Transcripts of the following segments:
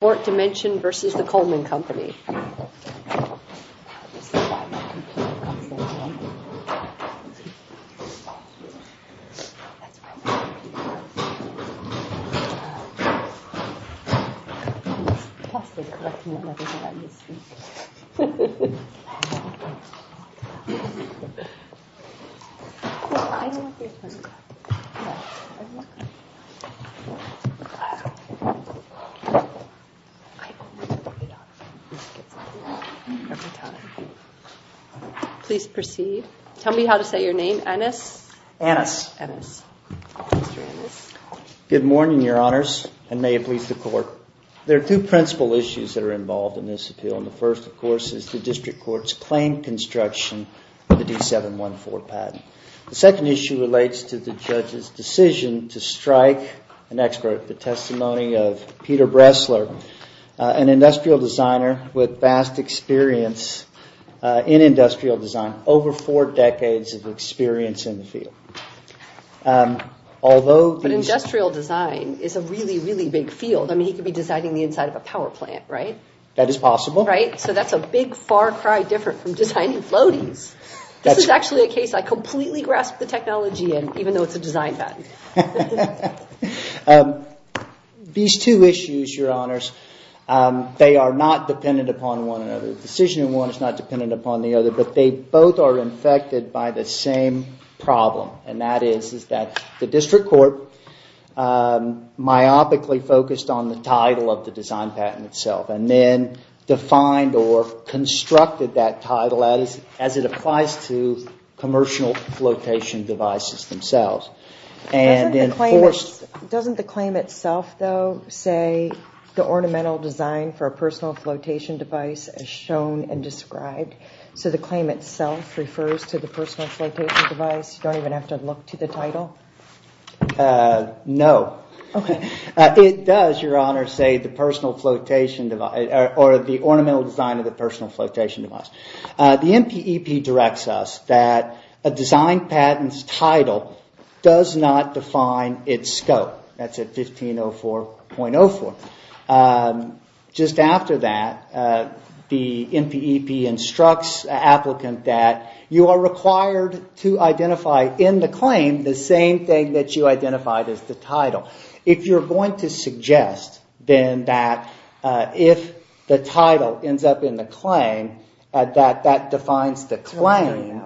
The Coleman Company, Inc. I'm going to get some sleep every time. Please proceed. Tell me how to say your name. Ennis? Ennis. Ennis. Mr. Ennis. Good morning, Your Honors, and may it please the Court. There are two principal issues that are involved in this appeal. The first, of course, is the District Court's claim construction of the D714 patent. The second issue relates to the judge's decision to strike an expert. The testimony of Peter Bressler, an industrial designer with vast experience in industrial design, over four decades of experience in the field. But industrial design is a really, really big field. I mean, he could be designing the inside of a power plant, right? That is possible. So that's a big, far cry different from designing floaties. This is actually a case I completely grasp the technology in, even though it's a design patent. These two issues, Your Honors, they are not dependent upon one another. The decision in one is not dependent upon the other, but they both are infected by the same problem, and that is that the District Court myopically focused on the title of the design patent itself and then defined or constructed that title as it applies to commercial flotation devices themselves. Doesn't the claim itself, though, say the ornamental design for a personal flotation device as shown and described? So the claim itself refers to the personal flotation device? You don't even have to look to the title? No. It does, Your Honor, say the ornamental design of the personal flotation device. The MPEP directs us that a design patent's title does not define its scope. That's at 1504.04. Just after that, the MPEP instructs an applicant that you are required to identify in the claim the same thing that you identified as the title. If you're going to suggest, then, that if the title ends up in the claim, that that defines the claim,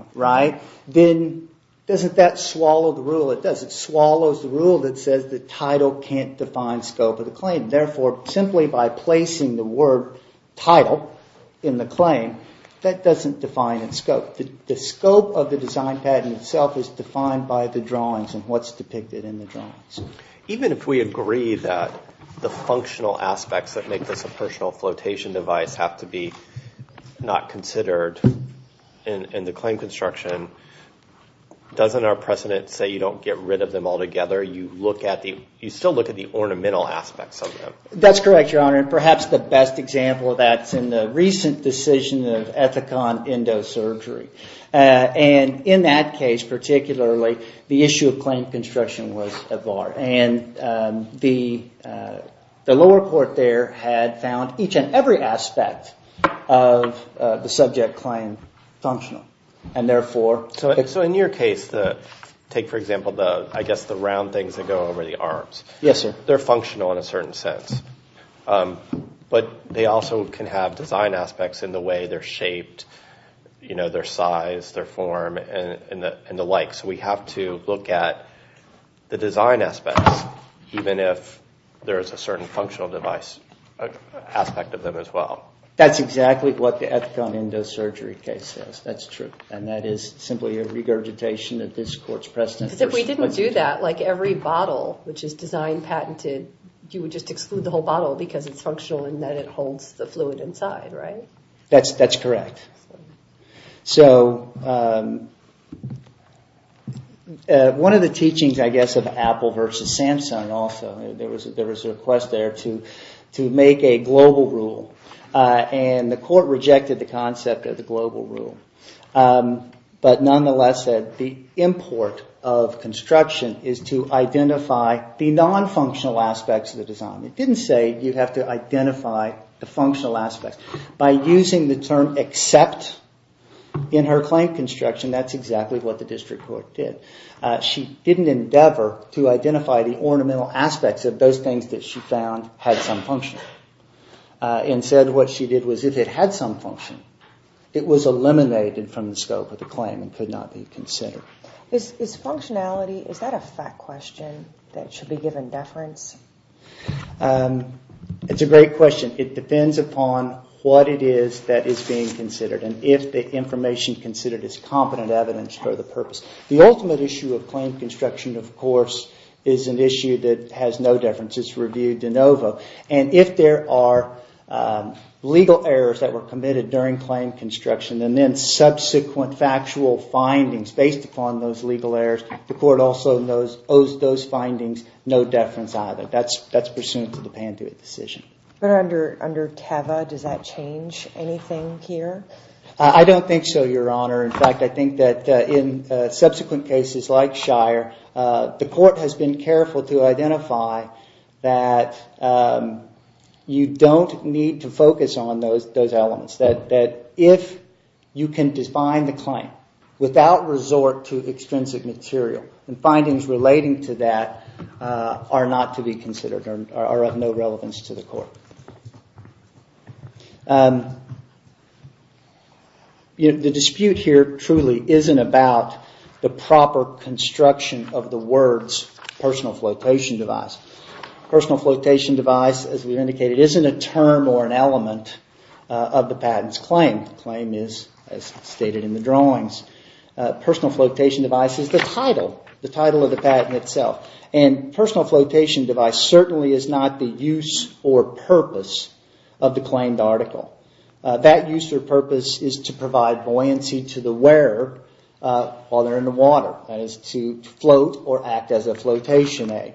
then doesn't that swallow the rule? It does. It swallows the rule that says the title can't define scope of the claim. Therefore, simply by placing the word title in the claim, that doesn't define its scope. The scope of the design patent itself is defined by the drawings and what's depicted in the drawings. Even if we agree that the functional aspects that make this a personal flotation device have to be not considered in the claim construction, doesn't our precedent say you don't get rid of them altogether? You still look at the ornamental aspects of them. That's correct, Your Honor. Perhaps the best example of that is in the recent decision of Ethicon Endosurgery. In that case, particularly, the issue of claim construction was at large. The lower court there had found each and every aspect of the subject claim functional. In your case, take, for example, the round things that go over the arms. Yes, sir. They're functional in a certain sense. But they also can have design aspects in the way they're shaped, their size, their form, and the like. So we have to look at the design aspects, even if there is a certain functional aspect of them as well. That's exactly what the Ethicon Endosurgery case says. That's true. And that is simply a regurgitation of this court's precedent. Because if we didn't do that, like every bottle which is design patented, you would just exclude the whole bottle because it's functional in that it holds the fluid inside, right? That's correct. So one of the teachings, I guess, of Apple versus Samsung also, there was a request there to make a global rule. And the court rejected the concept of the global rule. But nonetheless, the import of construction is to identify the non-functional aspects of the design. It didn't say you have to identify the functional aspects. By using the term except in her claim construction, that's exactly what the district court did. She didn't endeavor to identify the ornamental aspects of those things that she found had some function. Instead, what she did was if it had some function, it was eliminated from the scope of the claim and could not be considered. Is functionality, is that a fact question that should be given deference? It's a great question. It depends upon what it is that is being considered and if the information considered is competent evidence for the purpose. The ultimate issue of claim construction, of course, is an issue that has no deference. It's reviewed de novo. And if there are legal errors that were committed during claim construction and then subsequent factual findings based upon those legal errors, the court also owes those findings no deference either. That's pursuant to the Pantuit decision. But under TEVA, does that change anything here? I don't think so, Your Honor. In fact, I think that in subsequent cases like Shire, the court has been careful to identify that you don't need to focus on those elements. That if you can define the claim without resort to extrinsic material and findings relating to that are not to be considered, are of no relevance to the court. The dispute here truly isn't about the proper construction of the words personal flotation device. Personal flotation device, as we've indicated, isn't a term or an element of the patent's claim. The claim is as stated in the drawings. Personal flotation device is the title, the title of the patent itself. And personal flotation device certainly is not the use or purpose of the claimed article. That use or purpose is to provide buoyancy to the wearer while they're in the water. That is to float or act as a flotation aid.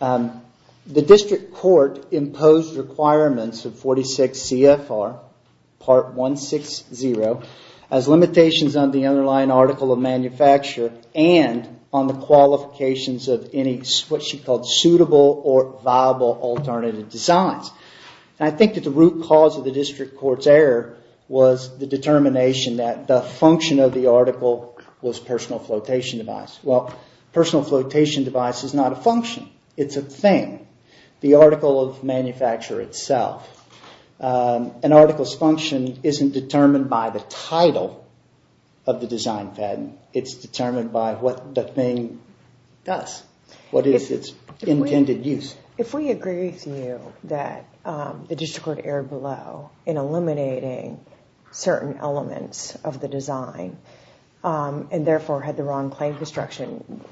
The district court imposed requirements of 46 CFR Part 160 as limitations on the underlying article of manufacture and on the qualifications of any suitable or viable alternative designs. I think that the root cause of the district court's error was the determination that the function of the article was personal flotation device. Personal flotation device is not a function. It's a thing. The article of manufacture itself. An article's function isn't determined by the title of the design patent. It's determined by what the thing does, what is its intended use. If we agree with you that the district court erred below in eliminating certain elements of the design and therefore had the wrong claim construction,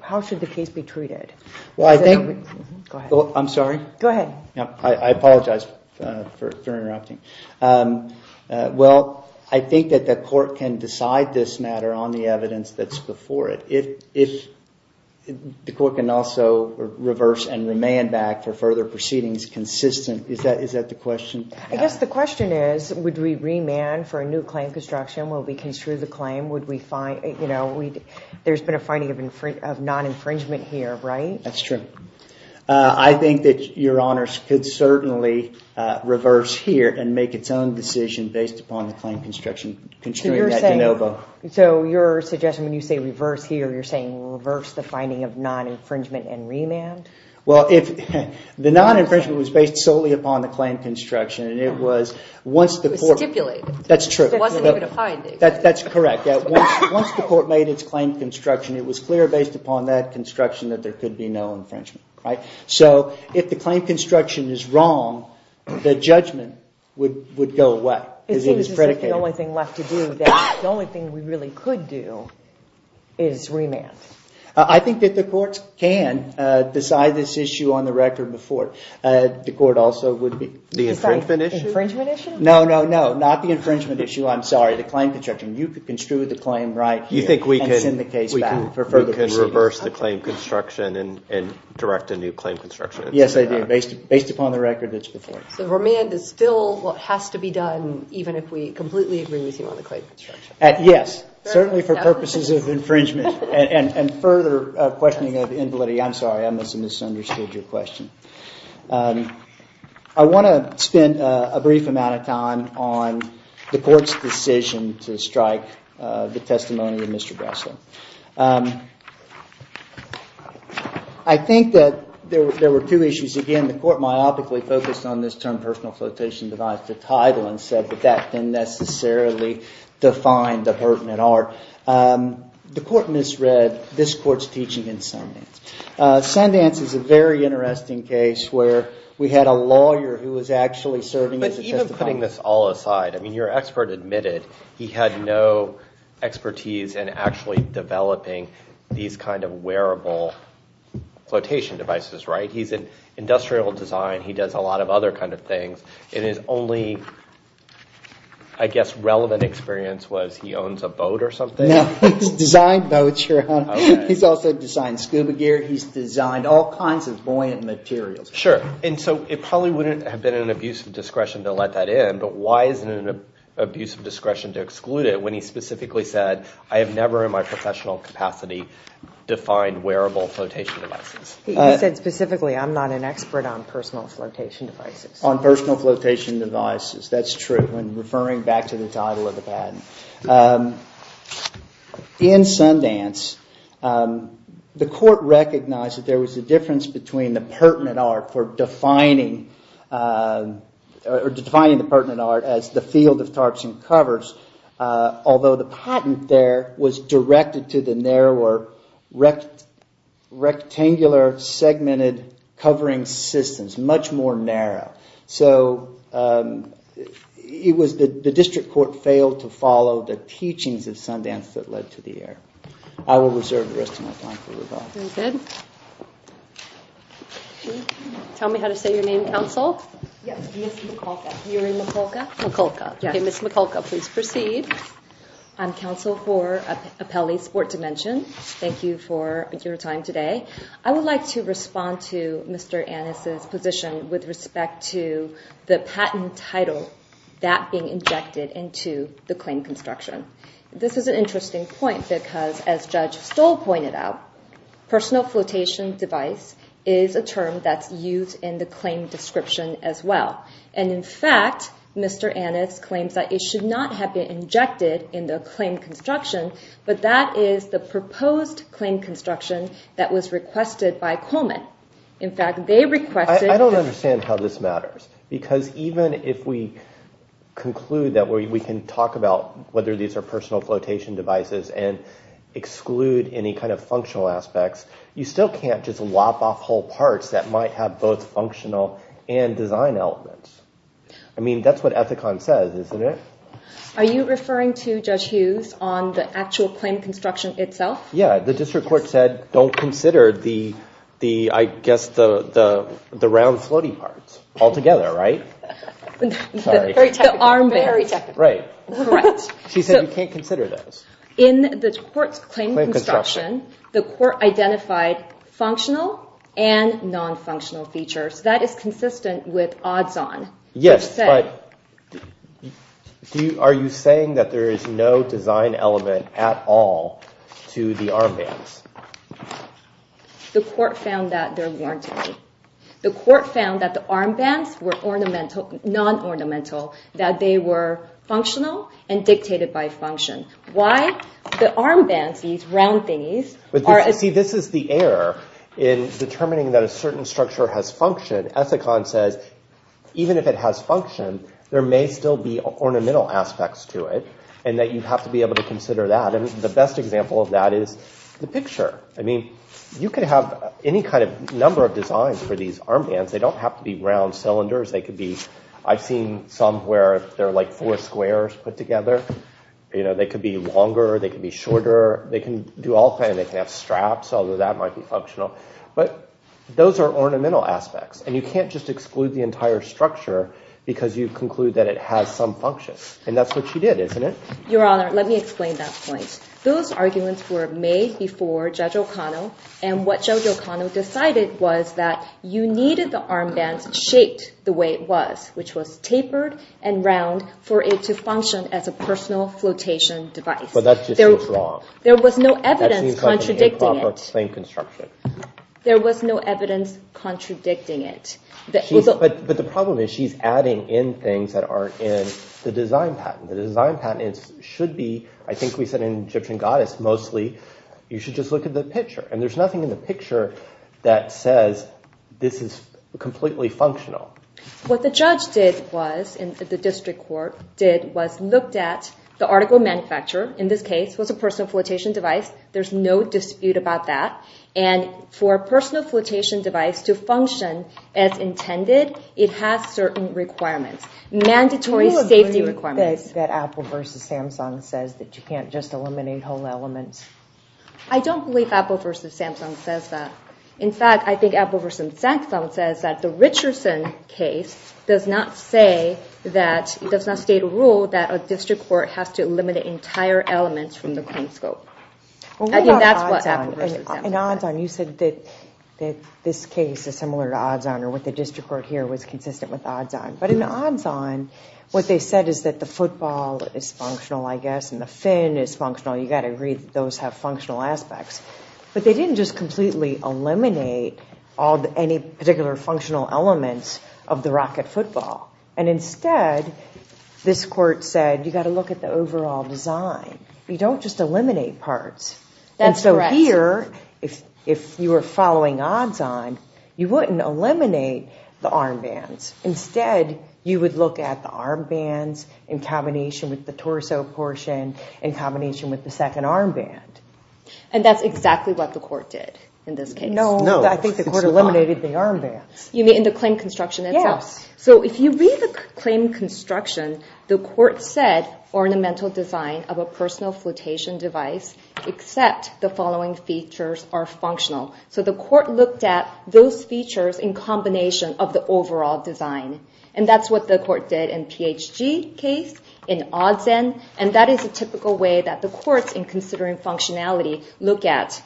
how should the case be treated? Well, I think... Go ahead. I'm sorry? Go ahead. I apologize for interrupting. Well, I think that the court can decide this matter on the evidence that's before it. If the court can also reverse and remand back for further proceedings consistent... Is that the question? I guess the question is, would we remand for a new claim construction? Will we construe the claim? There's been a finding of non-infringement here, right? That's true. I think that Your Honors could certainly reverse here and make its own decision based upon the claim construction, construing that de novo. So you're suggesting when you say reverse here, you're saying reverse the finding of non-infringement and remand? Well, the non-infringement was based solely upon the claim construction, and it was once the court... It was stipulated. That's true. There wasn't even a finding. That's correct. Once the court made its claim construction, it was clear based upon that construction that there could be no infringement. So if the claim construction is wrong, the judgment would go away. It seems as if the only thing left to do, the only thing we really could do is remand. I think that the court can decide this issue on the record before it. The court also would be... The infringement issue? No, no, no. Not the infringement issue. The claim construction. You could construe the claim right here and send the case back. We can reverse the claim construction and direct a new claim construction. Yes, I do. Based upon the record that's before us. So remand is still what has to be done, even if we completely agree with you on the claim construction. Yes. Certainly for purposes of infringement and further questioning of invalidity. I'm sorry. I misunderstood your question. I want to spend a brief amount of time on the court's decision to strike the testimony of Mr. Breslin. I think that there were two issues. Again, the court myopically focused on this term, personal flotation device to title, and said that that didn't necessarily define the pertinent art. The court misread this court's teaching in Sundance. Sundance is a very interesting case where we had a lawyer who was actually serving as a testifier. But even putting this all aside, I mean, your expert admitted he had no expertise in actually developing these kind of wearable flotation devices, right? He's in industrial design. He does a lot of other kind of things. And his only, I guess, relevant experience was he owns a boat or something? No, he's designed boats, Your Honor. He's also designed scuba gear. He's designed all kinds of buoyant materials. Sure. And so it probably wouldn't have been an abuse of discretion to let that in. But why is it an abuse of discretion to exclude it when he specifically said, I have never in my professional capacity defined wearable flotation devices? He said specifically, I'm not an expert on personal flotation devices. On personal flotation devices. That's true. And referring back to the title of the patent. In Sundance, the court recognized that there was a difference between the pertinent art for defining the pertinent art as the field of tarps and covers. Although the patent there was directed to the narrower rectangular segmented covering systems, much more narrow. So the district court failed to follow the teachings of Sundance that led to the error. I will reserve the rest of my time for rebuttal. Very good. Tell me how to say your name, counsel. Yes. My name is Michalka. Yuri Michalka? Michalka. Okay, Ms. Michalka, please proceed. I'm counsel for Apelli Sport Dimension. Thank you for your time today. I would like to respond to Mr. Annis' position with respect to the patent title that being injected into the claim construction. This is an interesting point because, as Judge Stoll pointed out, personal flotation device is a term that's used in the claim description as well. And, in fact, Mr. Annis claims that it should not have been injected in the claim construction, but that is the proposed claim construction that was requested by Coleman. In fact, they requested this. I don't understand how this matters. Because even if we conclude that we can talk about whether these are functional aspects, you still can't just lop off whole parts that might have both functional and design elements. I mean, that's what Ethicon says, isn't it? Are you referring to Judge Hughes on the actual claim construction itself? Yeah. The district court said don't consider the, I guess, the round, floaty parts altogether, right? Sorry. The armbands. Very technical. Right. Correct. She said you can't consider those. In the court's claim construction, the court identified functional and non-functional features. That is consistent with odds-on. Yes, but are you saying that there is no design element at all to the armbands? The court found that there weren't any. The court found that the armbands were ornamental, non-ornamental, that they were functional and dictated by function. Why the armbands, these round thingies— See, this is the error in determining that a certain structure has function. Ethicon says even if it has function, there may still be ornamental aspects to it and that you have to be able to consider that. And the best example of that is the picture. I mean, you could have any kind of number of designs for these armbands. They don't have to be round cylinders. I've seen some where they're like four squares put together. You know, they could be longer, they could be shorter. They can do all kinds. They can have straps, although that might be functional. But those are ornamental aspects, and you can't just exclude the entire structure because you conclude that it has some function. And that's what you did, isn't it? Your Honor, let me explain that point. Those arguments were made before Judge O'Connell, and what Judge O'Connell decided was that you needed the armbands shaped the way it was, which was tapered and round for it to function as a personal flotation device. But that just seems wrong. There was no evidence contradicting it. That seems like an improper claim construction. There was no evidence contradicting it. But the problem is she's adding in things that aren't in the design patent. The design patent should be, I think we said in Egyptian Goddess, mostly you should just look at the picture. And there's nothing in the picture that says this is completely functional. What the judge did was, and the district court did, was looked at the article manufacturer, in this case, was a personal flotation device. There's no dispute about that. And for a personal flotation device to function as intended, it has certain requirements, mandatory safety requirements. Do you believe that Apple v. Samsung says that you can't just eliminate whole elements? I don't believe Apple v. Samsung says that. In fact, I think Apple v. Samsung says that the Richardson case does not say that, does not state a rule that a district court has to eliminate entire elements from the claim scope. I think that's what Apple v. Samsung says. Well, what about odds-on? In odds-on, you said that this case is similar to odds-on, or what the district court here was consistent with odds-on. But in odds-on, what they said is that the football is functional, I guess, and the fin is functional. You've got to agree that those have functional aspects. But they didn't just completely eliminate any particular functional elements of the rocket football. And instead, this court said you've got to look at the overall design. You don't just eliminate parts. That's correct. And so here, if you were following odds-on, you wouldn't eliminate the armbands. Instead, you would look at the armbands in combination with the torso portion, in combination with the second armband. And that's exactly what the court did in this case. No, I think the court eliminated the armbands. You mean in the claim construction itself? Yes. So if you read the claim construction, the court said ornamental design of a personal flotation device except the following features are functional. So the court looked at those features in combination of the overall design. And that's what the court did in the PHG case, in odds-on, and that is a typical way that the courts, in considering functionality, look at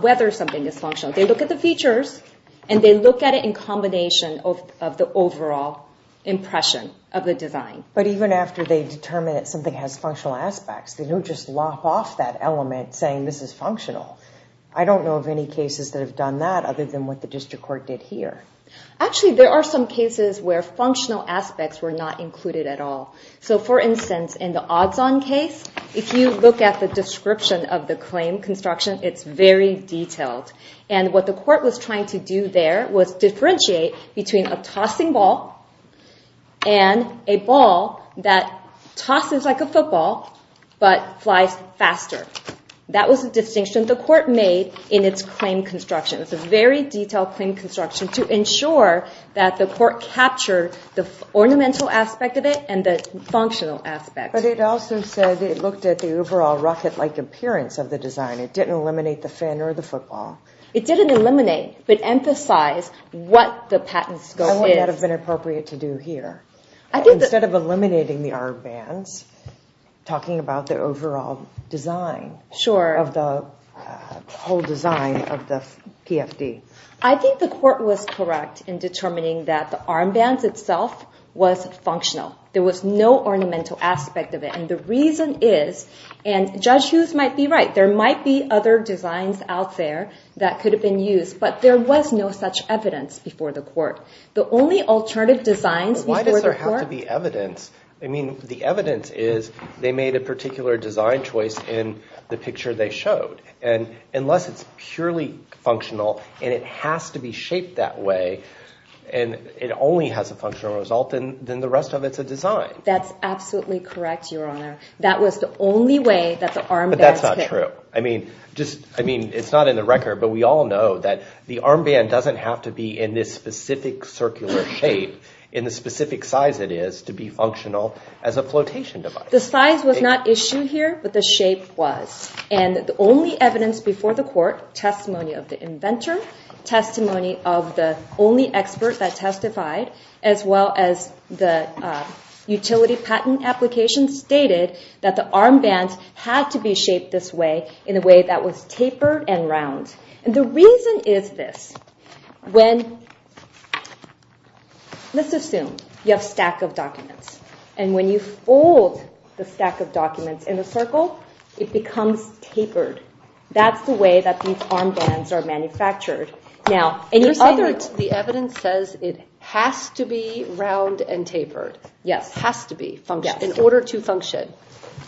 whether something is functional. They look at the features, and they look at it in combination of the overall impression of the design. But even after they determine that something has functional aspects, they don't just lop off that element saying this is functional. I don't know of any cases that have done that other than what the district court did here. Actually, there are some cases where functional aspects were not included at all. So, for instance, in the odds-on case, if you look at the description of the claim construction, it's very detailed. And what the court was trying to do there was differentiate between a tossing ball and a ball that tosses like a football but flies faster. That was the distinction the court made in its claim construction. It was a very detailed claim construction to ensure that the court captured the ornamental aspect of it and the functional aspect. But it also said it looked at the overall rocket-like appearance of the design. It didn't eliminate the fin or the football. It didn't eliminate but emphasized what the patent scope is. How would that have been appropriate to do here? Instead of eliminating the armbands, talking about the overall design of the whole design of the PFD. I think the court was correct in determining that the armbands itself was functional. There was no ornamental aspect of it. And the reason is, and Judge Hughes might be right, there might be other designs out there that could have been used, But why does there have to be evidence? I mean, the evidence is they made a particular design choice in the picture they showed. And unless it's purely functional and it has to be shaped that way, and it only has a functional result, then the rest of it's a design. That's absolutely correct, Your Honor. That was the only way that the armbands hit. But that's not true. I mean, it's not in the record, but we all know that the armband doesn't have to be in this specific circular shape, in the specific size it is, to be functional as a flotation device. The size was not issued here, but the shape was. And the only evidence before the court, testimony of the inventor, testimony of the only expert that testified, as well as the utility patent application, stated that the armband had to be shaped this way, in a way that was tapered and round. And the reason is this. Let's assume you have a stack of documents. And when you fold the stack of documents in a circle, it becomes tapered. That's the way that these armbands are manufactured. The evidence says it has to be round and tapered. Yes. Has to be, in order to function.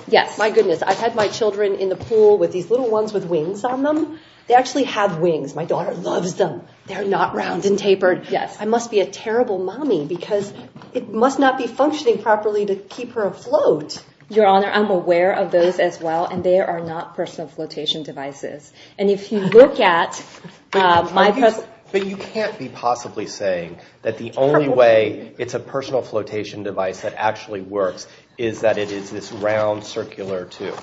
Yes. My goodness, I've had my children in the pool with these little ones with wings on them. They actually have wings. My daughter loves them. They're not round and tapered. I must be a terrible mommy, because it must not be functioning properly to keep her afloat. Your Honor, I'm aware of those as well, and they are not personal flotation devices. And if you look at my personal… But you can't be possibly saying that the only way it's a personal flotation device that actually works is that it is this round, circular tube.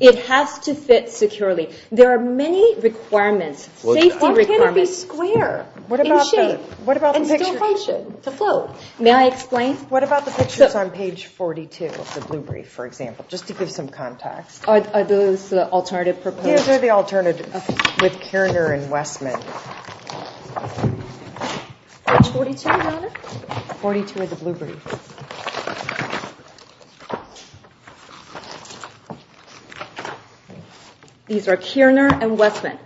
It has to fit securely. There are many requirements, safety requirements. Why can't it be square? In shape. What about the picture? And still function, to float. May I explain? What about the pictures on page 42 of the blue brief, for example, just to give some context? Are those the alternative proposed? Yes, they're the alternative. With Kirner and Westman. Page 42, Your Honor? 42 of the blue brief. These are Kirner and Westman.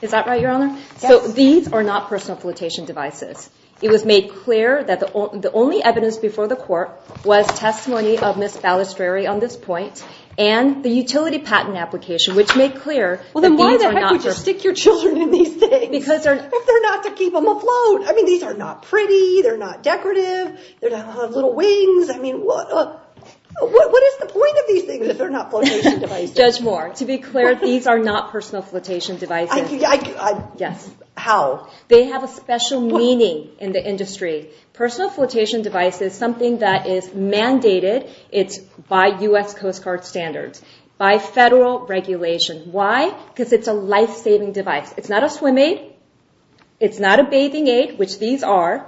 Is that right, Your Honor? Yes. So these are not personal flotation devices. It was made clear that the only evidence before the court was testimony of Ms. Balistrieri on this point, and the utility patent application, which made clear that these are not… Well, then why the heck would you stick your children in these things if they're not to keep them afloat? I mean, these are not pretty. They're not decorative. They don't have little wings. I mean, what is the point of these things if they're not flotation devices? Judge Moore, to be clear, these are not personal flotation devices. I… Yes. How? They have a special meaning in the industry. Personal flotation device is something that is mandated. It's by U.S. Coast Guard standards, by federal regulation. Why? Because it's a life-saving device. It's not a swim aid. It's not a bathing aid, which these are.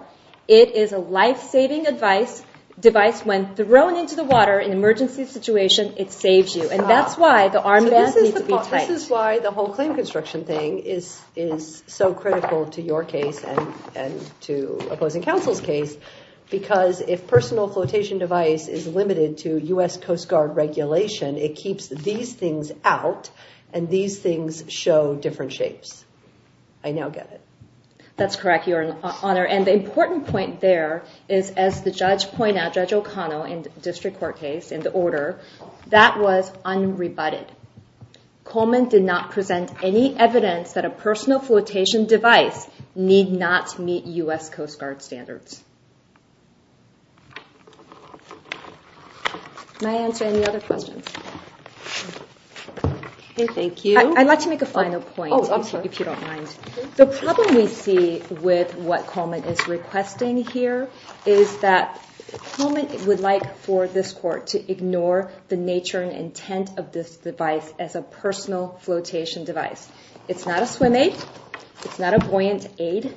It is a life-saving device. When thrown into the water in an emergency situation, it saves you. And that's why the armband needs to be tight. So this is why the whole claim construction thing is so critical to your case and to opposing counsel's case, because if personal flotation device is limited to U.S. Coast Guard regulation, it keeps these things out, and these things show different shapes. I now get it. That's correct, Your Honor. And the important point there is, as the judge pointed out, Judge O'Connell, in the district court case, in the order, that was unrebutted. Coleman did not present any evidence that a personal flotation device need not meet U.S. Coast Guard standards. May I answer any other questions? Okay, thank you. I'd like to make a final point, if you don't mind. The problem we see with what Coleman is requesting here is that Coleman would like for this court to ignore the nature and intent of this device as a personal flotation device. It's not a swim aid. It's not a buoyant aid.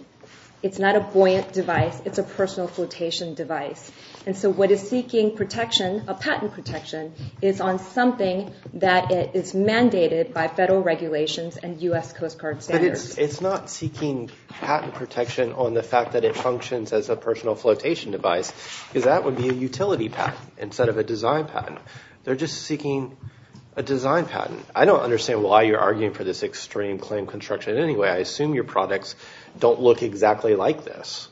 It's not a buoyant device. It's a personal flotation device. And so what is seeking protection, a patent protection, is on something that is mandated by federal regulations and U.S. Coast Guard standards. But it's not seeking patent protection on the fact that it functions as a personal flotation device, because that would be a utility patent instead of a design patent. They're just seeking a design patent. I don't understand why you're arguing for this extreme claim construction. Anyway, I assume your products don't look exactly like this.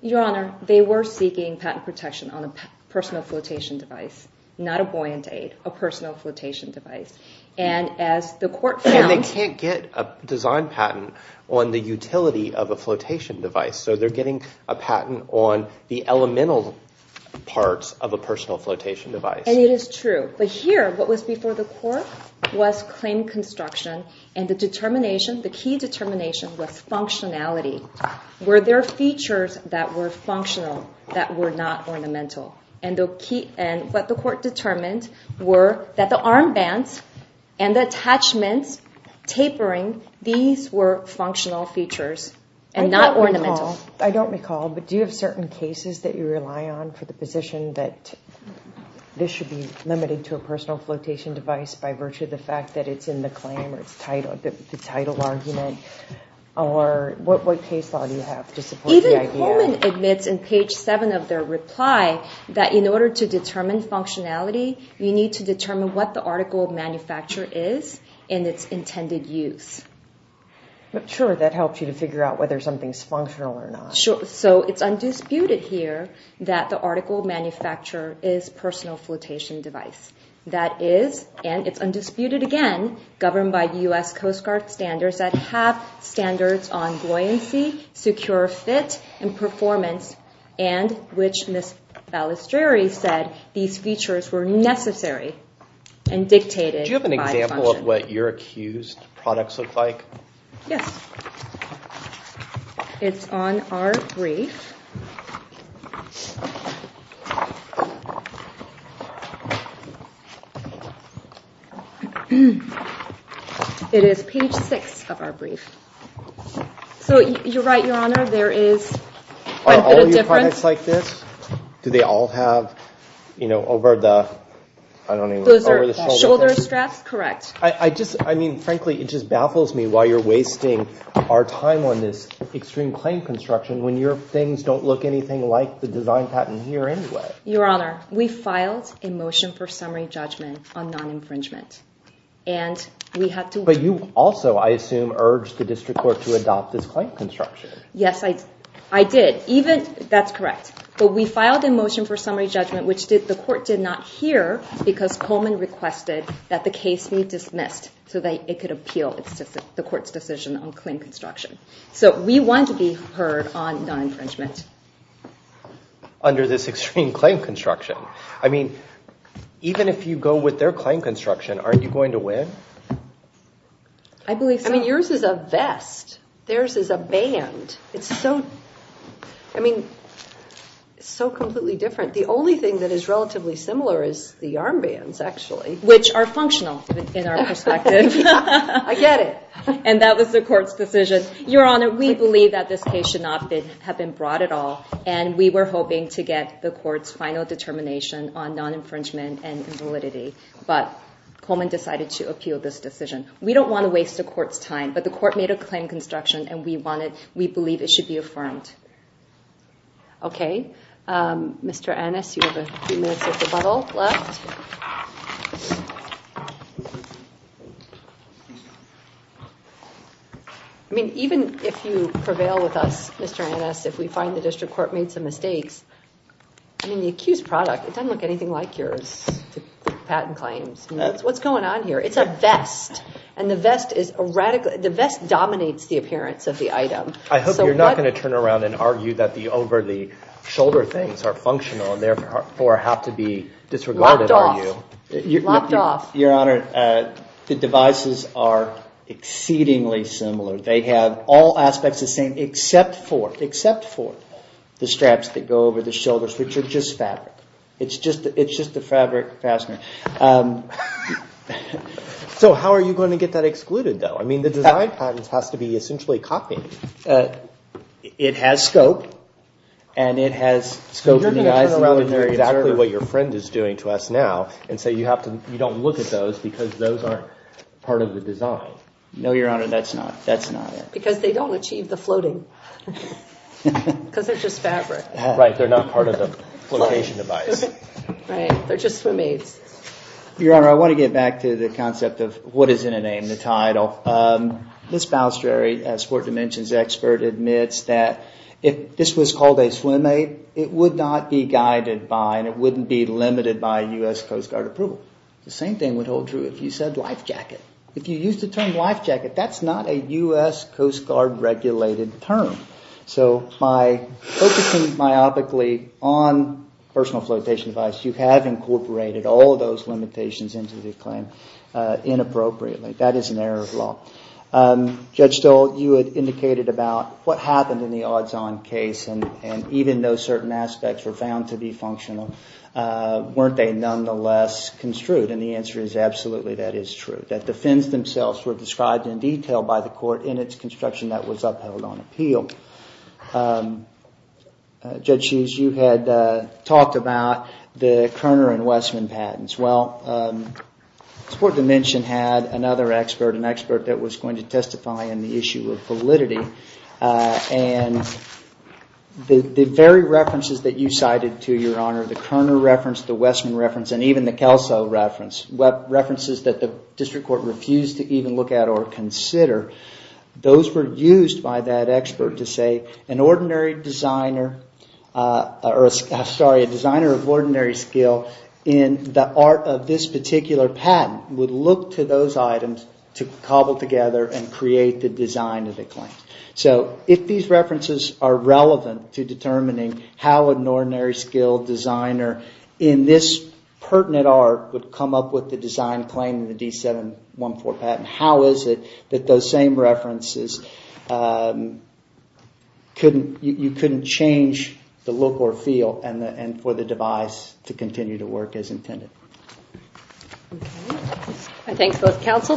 Your Honor, they were seeking patent protection on a personal flotation device, not a buoyant aid, a personal flotation device. And as the court found— And they can't get a design patent on the utility of a flotation device. So they're getting a patent on the elemental parts of a personal flotation device. And it is true. But here, what was before the court was claim construction. And the determination, the key determination, was functionality. Were there features that were functional that were not ornamental? And what the court determined were that the armbands and the attachments tapering, these were functional features and not ornamental. I don't recall, but do you have certain cases that you rely on for the position that this should be limited to a personal flotation device by virtue of the fact that it's in the claim or the title argument? Or what case law do you have to support the idea? Even Coleman admits in page 7 of their reply that in order to determine functionality, you need to determine what the article of manufacture is and its intended use. Sure, that helps you to figure out whether something's functional or not. So it's undisputed here that the article of manufacture is personal flotation device. That is, and it's undisputed again, governed by U.S. Coast Guard standards that have standards on buoyancy, secure fit, and performance, and which Ms. Balistrieri said these features were necessary and dictated by function. Do you have an example of what your accused products look like? Yes. It's on our brief. It is page 6 of our brief. So you're right, Your Honor, there is quite a bit of difference. Are all of your products like this? Do they all have, you know, over the, I don't even, over the shoulder straps? Those are shoulder straps, correct. I just, I mean, frankly, it just baffles me why you're wasting our time on this extreme claim construction when your things don't look anything like the design patent here anyway. Your Honor, we filed a motion for summary judgment on non-infringement, and we had to— But you also, I assume, urged the district court to adopt this claim construction. Yes, I did. Even, that's correct. But we filed a motion for summary judgment, which the court did not hear because Coleman requested that the case be dismissed so that it could appeal the court's decision on claim construction. So we want to be heard on non-infringement. Under this extreme claim construction. I mean, even if you go with their claim construction, aren't you going to win? I believe so. I mean, yours is a vest. Theirs is a band. It's so, I mean, it's so completely different. The only thing that is relatively similar is the arm bands, actually. Which are functional in our perspective. I get it. And that was the court's decision. Your Honor, we believe that this case should not have been brought at all, and we were hoping to get the court's final determination on non-infringement and validity. But Coleman decided to appeal this decision. We don't want to waste the court's time, but the court made a claim construction, and we believe it should be affirmed. Okay. Mr. Annis, you have a few minutes of rebuttal left. I mean, even if you prevail with us, Mr. Annis, if we find the district court made some mistakes, I mean, the accused product, it doesn't look anything like yours. The patent claims. What's going on here? And the vest dominates the appearance of the item. I hope you're not going to turn around and argue that the over-the-shoulder things are functional and therefore have to be disregarded, are you? Locked off. Locked off. Your Honor, the devices are exceedingly similar. They have all aspects the same, except for the straps that go over the shoulders, which are just fabric. It's just a fabric fastener. So how are you going to get that excluded, though? I mean, the design patent has to be essentially copied. It has scope, and it has scope in the eyes of the military. You're going to turn around and argue exactly what your friend is doing to us now and say you don't look at those because those aren't part of the design. No, Your Honor, that's not it. Because they don't achieve the floating. Because they're just fabric. Right, they're not part of the location device. Right, they're just for maids. Your Honor, I want to get back to the concept of what is in a name, the title. Now, Ms. Balistrieri, a sport dimensions expert, admits that if this was called a swim mate, it would not be guided by and it wouldn't be limited by U.S. Coast Guard approval. The same thing would hold true if you said life jacket. If you used the term life jacket, that's not a U.S. Coast Guard regulated term. So by focusing myopically on personal flotation device, you have incorporated all of those limitations into the claim inappropriately. That is an error of law. Judge Stoll, you had indicated about what happened in the odds-on case and even though certain aspects were found to be functional, weren't they nonetheless construed? And the answer is absolutely that is true. That the fins themselves were described in detail by the court in its construction that was upheld on appeal. Judge Sheeves, you had talked about the Kerner and Westman patents. Well, sport dimension had another expert, an expert that was going to testify on the issue of validity. And the very references that you cited to your honor, the Kerner reference, the Westman reference, and even the Kelso reference, references that the district court refused to even look at or consider, those were used by that expert to say an ordinary designer, sorry, a designer of ordinary skill in the art of this particular patent would look to those items to cobble together and create the design of the claim. So if these references are relevant to determining how an ordinary skilled designer in this pertinent art would come up with the design claim in the D714 patent, how is it that those same references, you couldn't change the look or feel and for the device to continue to work as intended? Okay. I thank both counsel.